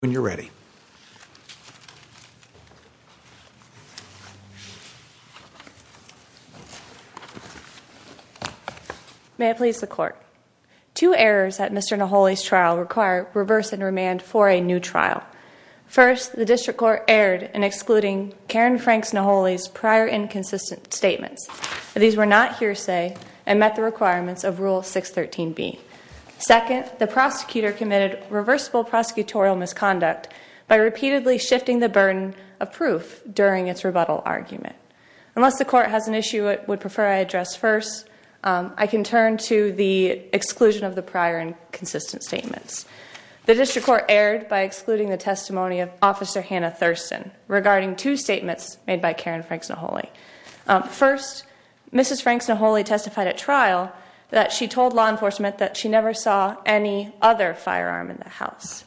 When you're ready. May I please the court. Two errors at Mr. Naholi's trial require reverse and remand for a new trial. First, the District Court erred in excluding Karen Franks Naholi's prior inconsistent statements. These were not hearsay and met the requirements of Rule 613B. Second, the prosecutor committed reversible prosecutorial misconduct by repeatedly shifting the burden of proof during its rebuttal argument. Unless the court has an issue, it would prefer I address first, I can turn to the exclusion of the prior and consistent statements. The District Court erred by excluding the testimony of Officer Hannah Thurston regarding two statements made by Karen Franks Naholi. First, Mrs. Franks Naholi testified at trial that she told law enforcement that she never saw any other firearm in the house.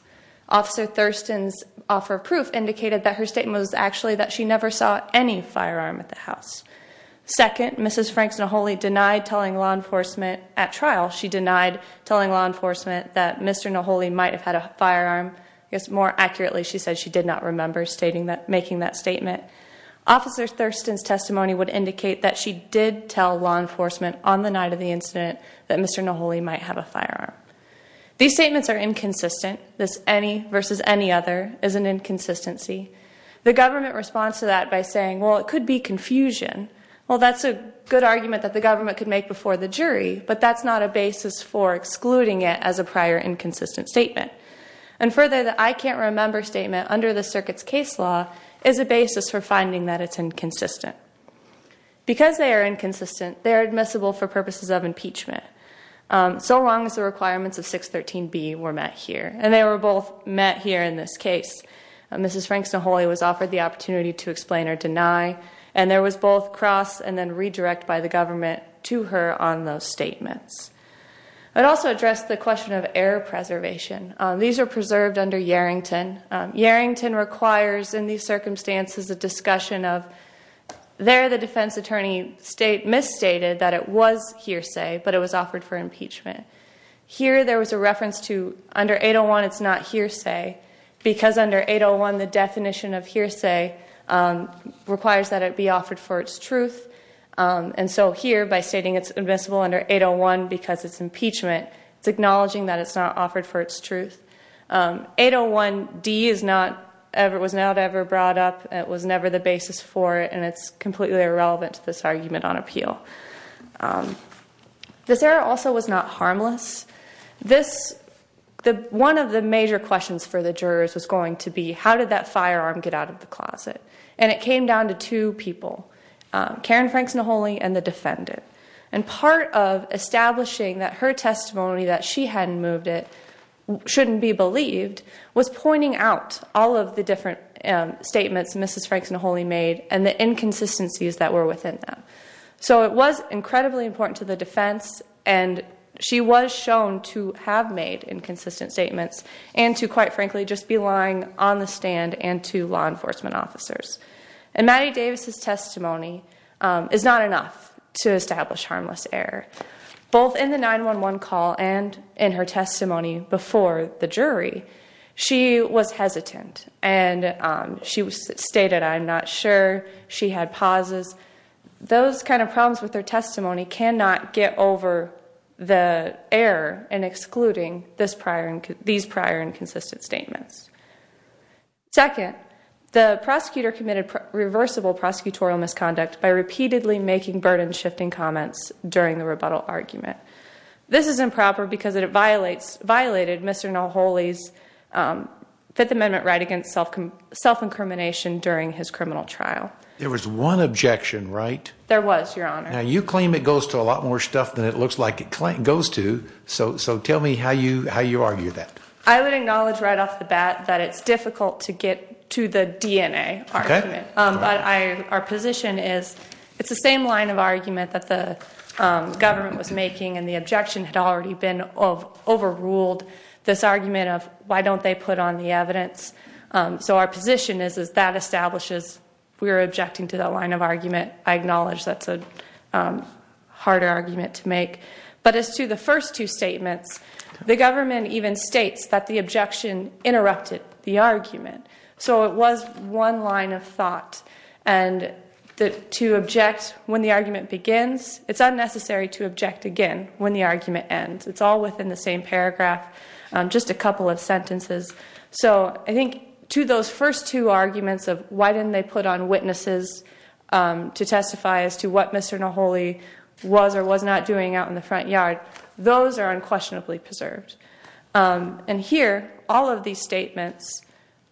Officer Thurston's offer of proof indicated that her statement was actually that she never saw any firearm at the house. Second, Mrs. Franks Naholi denied telling law enforcement at trial. She denied telling law enforcement that Mr. Naholi might have had a firearm. I guess more accurately, she said she did not remember stating that making that statement. Officer Thurston's testimony would indicate that she did tell law enforcement on the night of the incident that Mr. Naholi might have a firearm. These statements are inconsistent. This any versus any other is an inconsistency. The government responds to that by saying, well, it could be confusion. Well, that's a good argument that the government could make before the jury, but that's not a basis for excluding it as a prior inconsistent statement. And further, the I can't remember statement under the circuit's case law is a basis for finding that it's inconsistent because they are inconsistent. They are admissible for purposes of impeachment. So long as the requirements of 613 B were met here and they were both met here in this case. Mrs. Franks Naholi was offered the opportunity to explain or deny and there was both cross and then redirect by the government to her on those statements. I'd also address the question of air preservation. These are preserved under Yarrington. Yarrington requires in these circumstances a discussion of there the defense attorney state misstated that it was hearsay, but it was offered for impeachment here. There was a reference to under 801. It's not hearsay because under 801 the definition of hearsay requires that it be offered for its truth. And so here by stating it's admissible under 801 because it's impeachment. It's acknowledging that it's not offered for its truth. 801 D is not ever was not ever brought up. It was never the basis for it and it's completely irrelevant to this argument on appeal. This era also was not harmless this the one of the major questions for the jurors was going to be how did that firearm get out of the closet and it came down to two people Karen Franks Naholi and the defendant and part of establishing that her testimony that she hadn't moved it shouldn't be believed was pointing out all of the different statements. Mrs. Franks Naholi made and the inconsistencies that were within them. So it was incredibly important to the defense and she was shown to have made inconsistent statements and to quite frankly just be lying on the stand and to law enforcement officers and Matty Davis's testimony is not enough to establish harmless error both in the 911 call and in her testimony before the jury. She was hesitant and she was stated. I'm not sure she had pauses. Those kind of problems with their testimony cannot get over the air and excluding this prior and these prior and consistent statements. Second the prosecutor committed reversible prosecutorial misconduct by repeatedly making burden shifting comments during the rebuttal argument. This is improper because it violates violated. Mr. Naholi's 5th Amendment right against self-incrimination during his criminal trial. There was one objection, right? There was your honor. Now you claim it goes to a lot more stuff than it looks like it goes to so tell me how you how you argue that I would acknowledge right off the bat that it's difficult to get to the DNA argument, but I our position is it's the same line of argument that the government was making and the objection had already been overruled this argument of why don't they put on the evidence? So our position is is that establishes we were objecting to the line of argument. I acknowledge that's a harder argument to make but as to the first two statements the government even states that the objection interrupted the argument. So it was one line of thought and the to object when the argument begins. It's unnecessary to object again when the argument ends. It's all within the same paragraph just a couple of sentences. So I think to those first two arguments of why didn't they put on witnesses to testify as to what Mr. Naholi was or was not doing out in the front yard. Those are unquestionably preserved and here all of these statements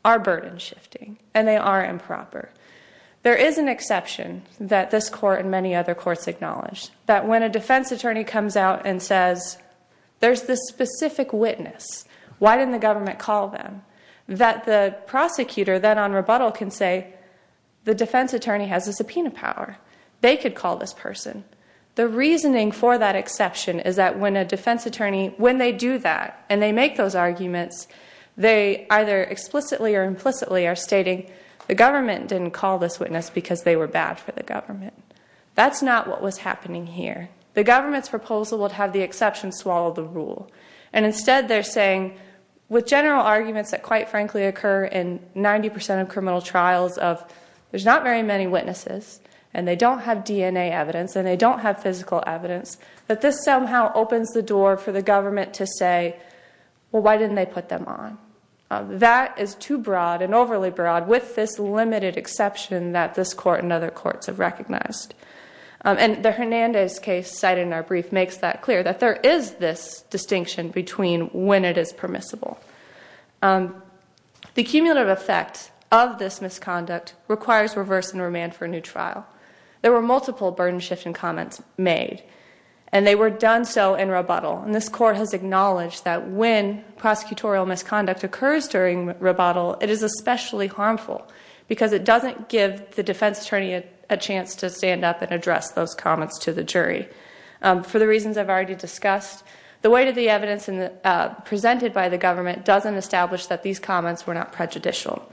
are burden shifting and they are improper. There is an exception that this court and many other courts acknowledged that when a defense attorney comes out and says There's this specific witness. Why didn't the government call them? That the prosecutor then on rebuttal can say the defense attorney has a subpoena power. They could call this person. The reasoning for that exception is that when a defense attorney when they do that and they make those arguments they either explicitly or implicitly are stating the government didn't call this witness because they were bad for the government. That's not what was happening here. The government's proposal would have the exception swallow the rule and instead they're saying with general arguments that quite frankly occur in 90% of criminal trials of there's not very many witnesses and they don't have DNA evidence and they don't have physical evidence that this somehow opens the door for the government to say why didn't they put them on that is too broad and overly broad with this limited exception that this court and other courts have recognized and the Hernandez case cited in our brief makes that clear that there is this distinction between when it is permissible. The cumulative effect of this misconduct requires reverse and remand for a new trial. There were multiple burden shift in comments made and they were done so in rebuttal and this court has acknowledged that when prosecutorial misconduct occurs during rebuttal. It is especially harmful because it doesn't give the defense attorney a chance to stand up and address those comments to the jury for the reasons. I've already discussed the way to the evidence in the presented by the government doesn't establish that these comments were not prejudicial.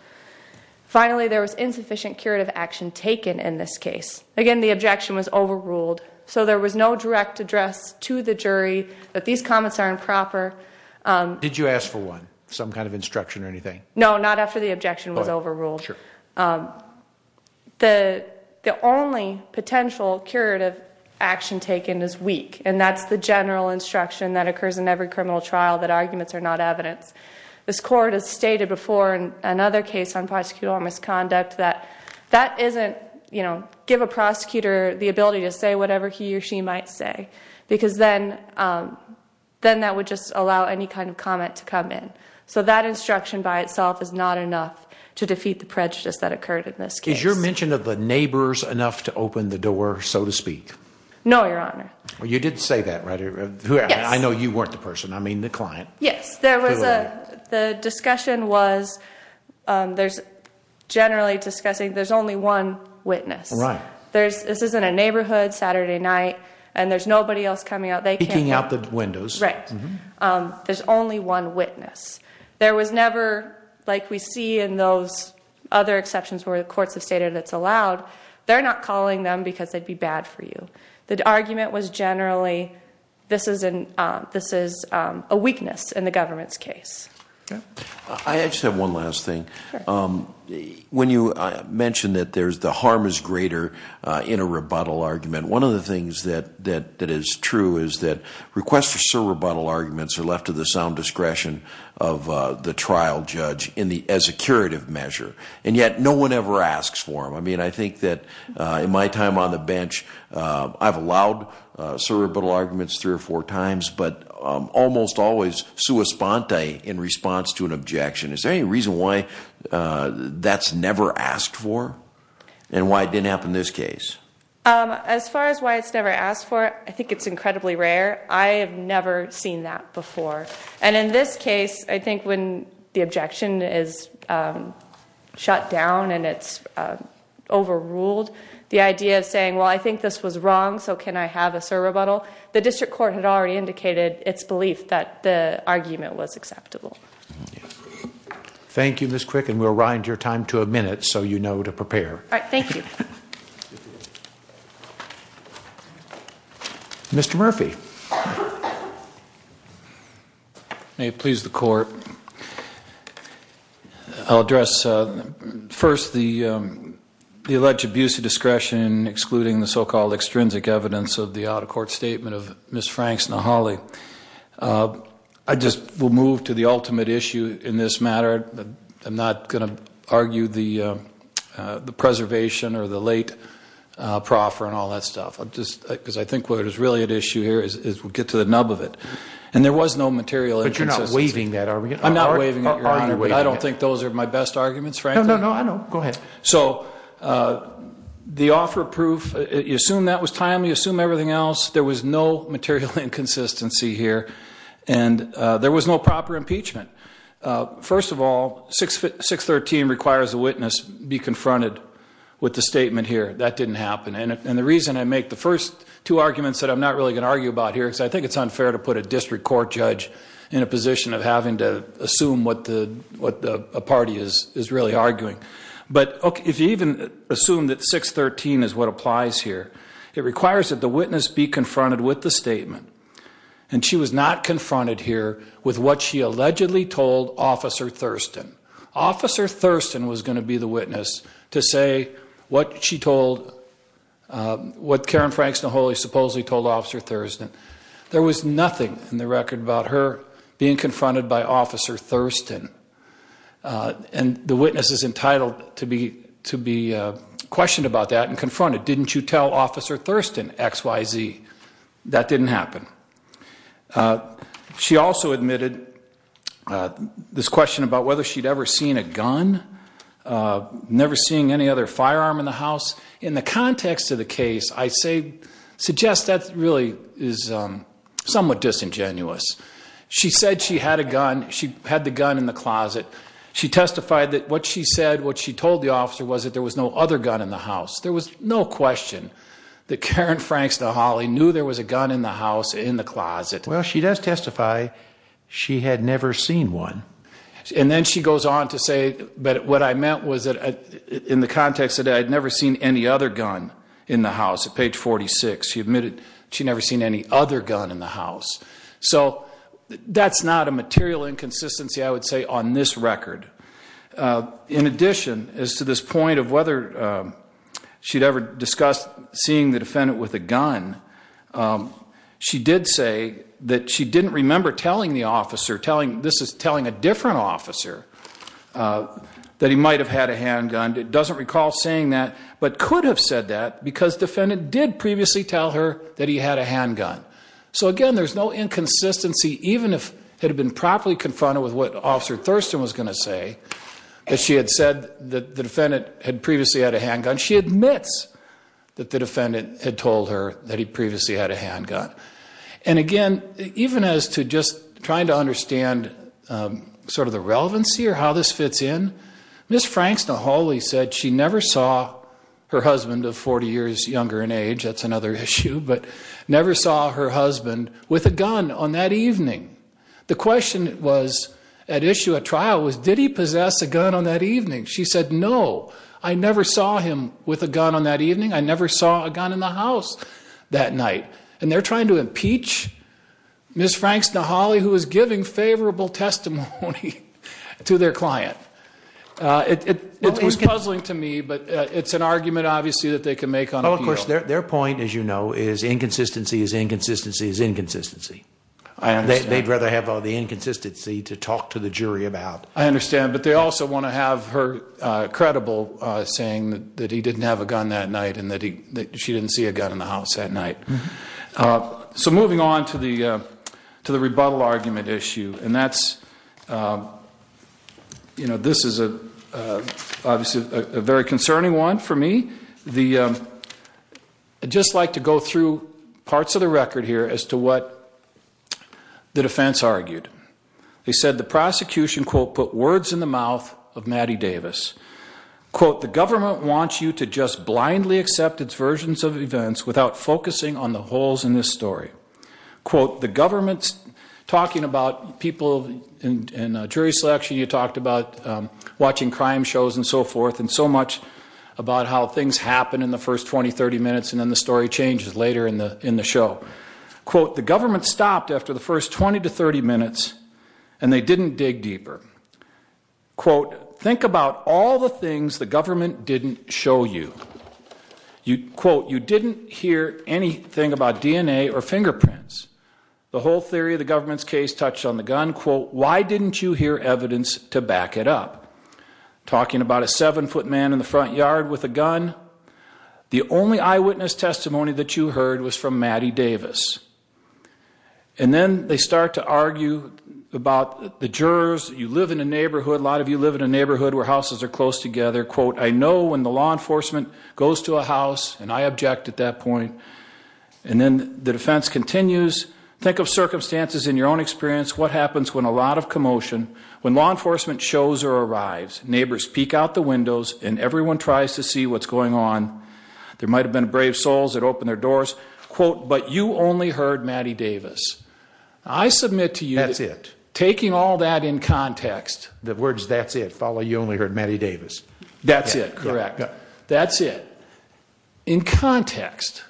Finally, there was insufficient curative action taken in this case again. The objection was overruled so there was no direct address to the jury that these comments are improper. Did you ask for one some kind of instruction or anything? No, not after the objection was overruled. The only potential curative action taken this week and that's the general instruction that occurs in every criminal trial that arguments are not evidence. This court has stated before and another case on prosecutorial misconduct that that isn't, you know, give a prosecutor the ability to say whatever he or she might say because then then that would just allow any kind of comment to come in. So that instruction by itself is not enough to defeat the prejudice that occurred in this case. Is your mention of the neighbors enough to open the door? So to speak? No, your honor. Well, you did say that right here. I know you weren't the person. I mean the client. Yes, there was a the discussion was there's generally discussing. There's only one witness, right? There's this isn't a neighborhood Saturday night and there's nobody else coming out. They can't hang out the windows, right? There's only one witness. There was never like we see in those other exceptions where the courts have stated that's allowed. They're not calling them because they'd be bad for you. The argument was generally this is an this is a weakness in the government's case. I just have one last thing when you mentioned that there's the harm is greater in a rebuttal argument. One of the things that that is true is that requests for sound discretion of the trial judge in the as a curative measure and yet no one ever asks for him. I mean, I think that in my time on the bench. I've allowed cerebral arguments three or four times but almost always sua Spontae in response to an objection is any reason why that's never asked for and why it didn't happen this case as far as why it's never asked for it. I think it's incredibly rare. I have never seen that before. And in this case, I think when the objection is shut down and it's overruled the idea of saying well, I think this was wrong. So can I have a sir rebuttal the district court had already indicated its belief that the argument was acceptable. Thank you. Miss quick and we'll ride your time to a minute. So, you know to prepare. All right. Thank you. Mr. Murphy. May it please the court. I'll address first the the alleged abuse of discretion excluding the so-called extrinsic evidence of the out-of-court statement of Miss Frank's Nahali. I just will move to the ultimate issue in this matter. I'm not going to argue the the preservation or the late proffer and all that stuff. I'm just because I think what is really at issue here is we'll get to the nub of it and there was no material interest. You're not waving that are we? I'm not waving at your honor, but I don't think those are my best arguments right now. No, I know go ahead. So the offer proof you assume that was timely assume everything else. There was no material inconsistency here and there was no proper impeachment. First of all, 613 requires a witness be confronted with the statement here that didn't happen. And the reason I make the first two arguments that I'm not really going to argue about here is I think it's unfair to put a district court judge in a position of having to assume what the what the party is is really arguing but if you even assume that 613 is what applies here, it requires that the witness be confronted with the statement and she was not told officer Thurston officer Thurston was going to be the witness to say what she told what Karen Franks the Holy supposedly told officer Thurston. There was nothing in the record about her being confronted by officer Thurston and the witness is entitled to be to be questioned about that and confronted. Didn't you tell officer Thurston XYZ that didn't happen? She also admitted this question about whether she'd ever seen a gun never seeing any other firearm in the house in the context of the case. I say suggest that really is somewhat disingenuous. She said she had a gun. She had the gun in the closet. She testified that what she said what she told the officer was that there was no other gun in the house. There was no question that Karen Franks the Holly knew there was a gun in the house in the closet. Well, she does testify. She had never seen one and then she goes on to say but what I meant was that in the context that I'd never seen any other gun in the house at page 46. She admitted she never seen any other gun in the house. So that's not a material inconsistency. I would say on this record in addition as to this point of whether she'd ever discussed seeing the defendant with a she did say that she didn't remember telling the officer telling this is telling a different officer that he might have had a handgun. It doesn't recall saying that but could have said that because defendant did previously tell her that he had a handgun. So again, there's no inconsistency even if it had been properly confronted with what officer Thurston was going to say that she had said that the defendant had previously had a handgun. She admits that the defendant had told her that he previously had a handgun. And again, even as to just trying to understand sort of the relevancy or how this fits in Miss Franks. The Holy said she never saw her husband of 40 years younger in age. That's another issue but never saw her husband with a gun on that evening. The question was at issue at trial was did he possess a gun on that evening? She said no, I never saw him with a gun on that evening. I never saw a gun in the house that night and they're trying to impeach Miss Franks to Holly who is giving favorable testimony to their client. It was puzzling to me but it's an argument obviously that they can make on of course their point as you know is inconsistency is inconsistency is inconsistency and they'd rather have all the inconsistency to talk to the jury about I understand but they also want to have her credible saying that he didn't have a gun that night and that he that she didn't see a gun in the house at night. So moving on to the to the rebuttal argument issue and that's you know, this is a obviously a very concerning one for me the just like to go through parts of the record here as to what the defense argued. They said the prosecution quote put words in the mouth of government wants you to just blindly accept its versions of events without focusing on the holes in this story quote the government's talking about people in jury selection you talked about watching crime shows and so forth and so much about how things happen in the first 20 30 minutes and then the story changes later in the in the show quote the government stopped after the first 20 to 30 minutes and they didn't dig deeper quote think about all the things the government didn't show you you quote you didn't hear anything about DNA or fingerprints the whole theory of the government's case touched on the gun quote. Why didn't you hear evidence to back it up talking about a seven-foot man in the front yard with a gun? The only eyewitness testimony that you heard was from Matty Davis and then they start to argue about the jurors you live in a neighborhood a lot of you live in a neighborhood where houses are close together quote. I know when the law enforcement goes to a house and I object at that point and then the defense continues think of circumstances in your own experience. What happens when a lot of commotion when law enforcement shows or arrives neighbors peek out the windows and everyone tries to see what's going on there might have been brave souls that open their doors quote, but you only heard Matty Davis I submit to you that's it taking all that in context the words. That's it follow. You only heard Matty Davis. That's it. Correct. That's it in context.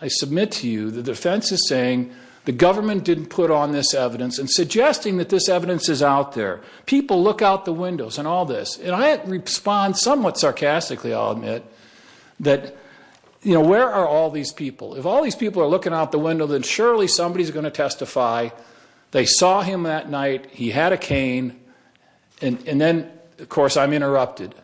I submit to you the defense is saying the government didn't put on this evidence and suggesting that this evidence is out there people look out the windows and all this and I had respond somewhat sarcastically. I'll admit that you know, where are all these people if all these people are looking out the window that surely somebody's going to testify they saw him that night. He had a cane and then of course, I'm interrupted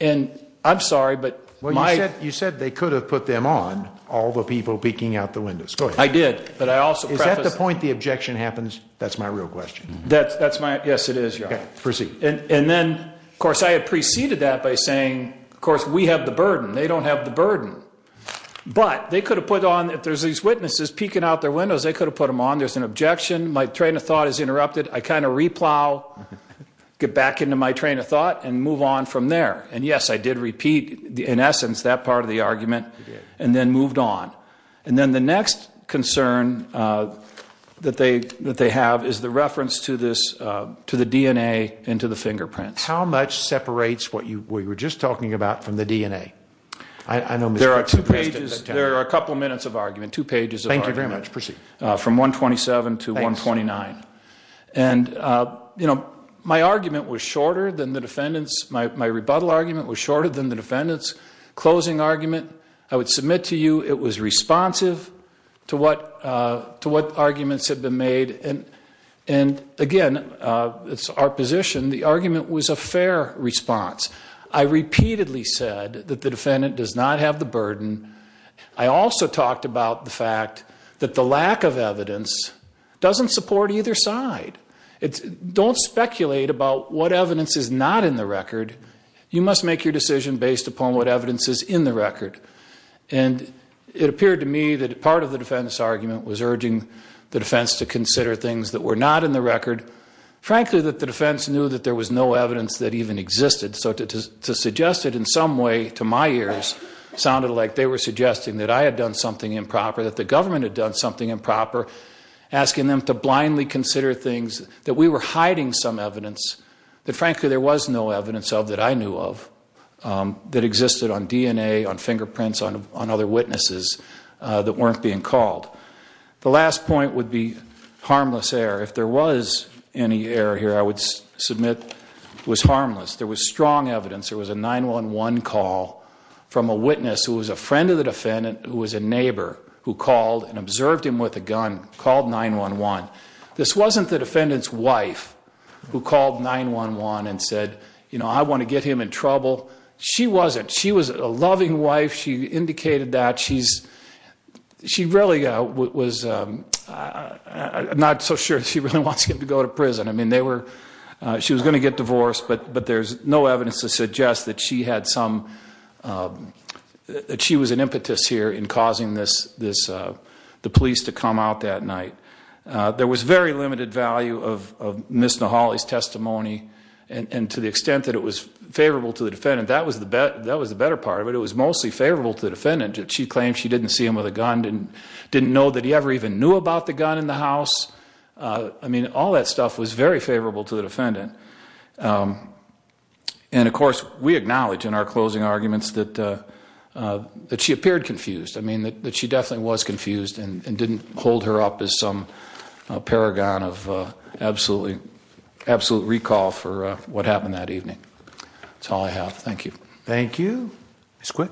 and I'm sorry, but when I said you said they could have put them on all the people peeking out the windows. Go ahead. I did but I also got the point the objection happens. That's my real question. That's that's my guess. It is your proceed and then of course I had preceded that by saying of course we have the burden they don't have the burden but they could have put on if there's these witnesses peeking out their windows. They could have put them on there's an objection. My train of thought is interrupted. I kind of replow get back into my train of thought and move on from there. And yes, I did repeat the in essence that part of the argument and then moved on and then the next concern that they that they have is the reference to this to the DNA into the We were just talking about from the DNA. I know there are two pages. There are a couple minutes of argument two pages. Thank you very much proceed from 127 to 129 and you know, my argument was shorter than the defendants. My rebuttal argument was shorter than the defendants closing argument. I would submit to you. It was responsive to what to what arguments have been made and and again, it's our position. The argument was a fair response. I repeatedly said that the defendant does not have the burden. I also talked about the fact that the lack of evidence doesn't support either side. It's don't speculate about what evidence is not in the record. You must make your decision based upon what evidence is in the record and it appeared to me that part of the defense argument was urging the defense to consider things that were not in the record frankly that the defense knew that there was no evidence that even existed. So to suggest it in some way to my ears sounded like they were suggesting that I had done something improper that the government had done something improper asking them to blindly consider things that we were hiding some evidence that frankly there was no evidence of that. I knew of that existed on DNA on fingerprints on on other witnesses that weren't being called. The last point would be harmless air. If there was any air here, I would submit was harmless. There was strong evidence. There was a 911 call from a witness who was a friend of the defendant who was a neighbor who called and observed him with a gun called 911. This wasn't the defendants wife who called 911 and said, you know, I want to get him in trouble. She wasn't she was a loving wife. She indicated that she's she really was not so sure. She really wants him to go to prison. I mean they were she was going to get divorced but but there's no evidence to suggest that she had some that she was an impetus here in causing this this the police to come out that night. There was very limited value of Miss Nahaly's testimony and to the extent that it was favorable to the defendant that was the bet that was the better part of it. It was mostly favorable to the defendant that she claimed. She didn't see him with a gun didn't didn't know that he ever even knew about the gun in the house. I mean all that stuff was very favorable to the defendant. And of course we acknowledge in our closing arguments that that she appeared confused. I mean that that she definitely was confused and didn't hold her up as some paragon of absolutely absolute recall for what happened that evening. That's all I have. Thank you. Thank you. It's quick.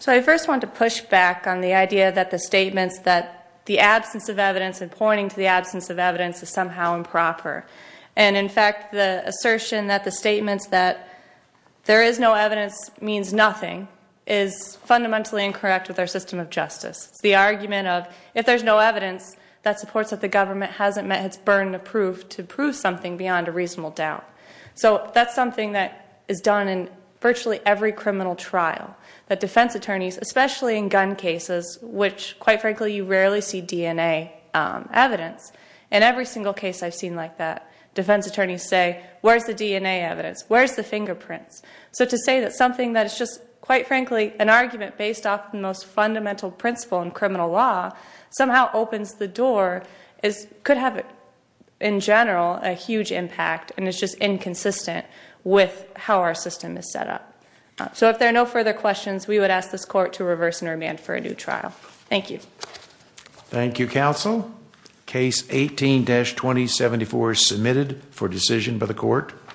So I first want to push back on the idea that the statements that the absence of evidence and pointing to the absence of evidence is somehow improper. And in fact the assertion that the statements that there is no evidence means nothing is fundamentally incorrect with our system of justice. The argument of if there's no evidence that supports that the government hasn't met its burden of proof to prove something beyond a reasonable doubt. So that's the argument that we're making. That's something that is done in virtually every criminal trial that defense attorneys especially in gun cases, which quite frankly, you rarely see DNA evidence in every single case. I've seen like that defense attorneys say, where's the DNA evidence? Where's the fingerprints? So to say that something that is just quite frankly an argument based off the most fundamental principle in criminal law somehow opens the door is could have it in general a huge impact and it's just inconsistent with how our system is set up. So if there are no further questions, we would ask this court to reverse and remand for a new trial. Thank you. Thank you counsel. Case 18-2074 is submitted for decision by the court.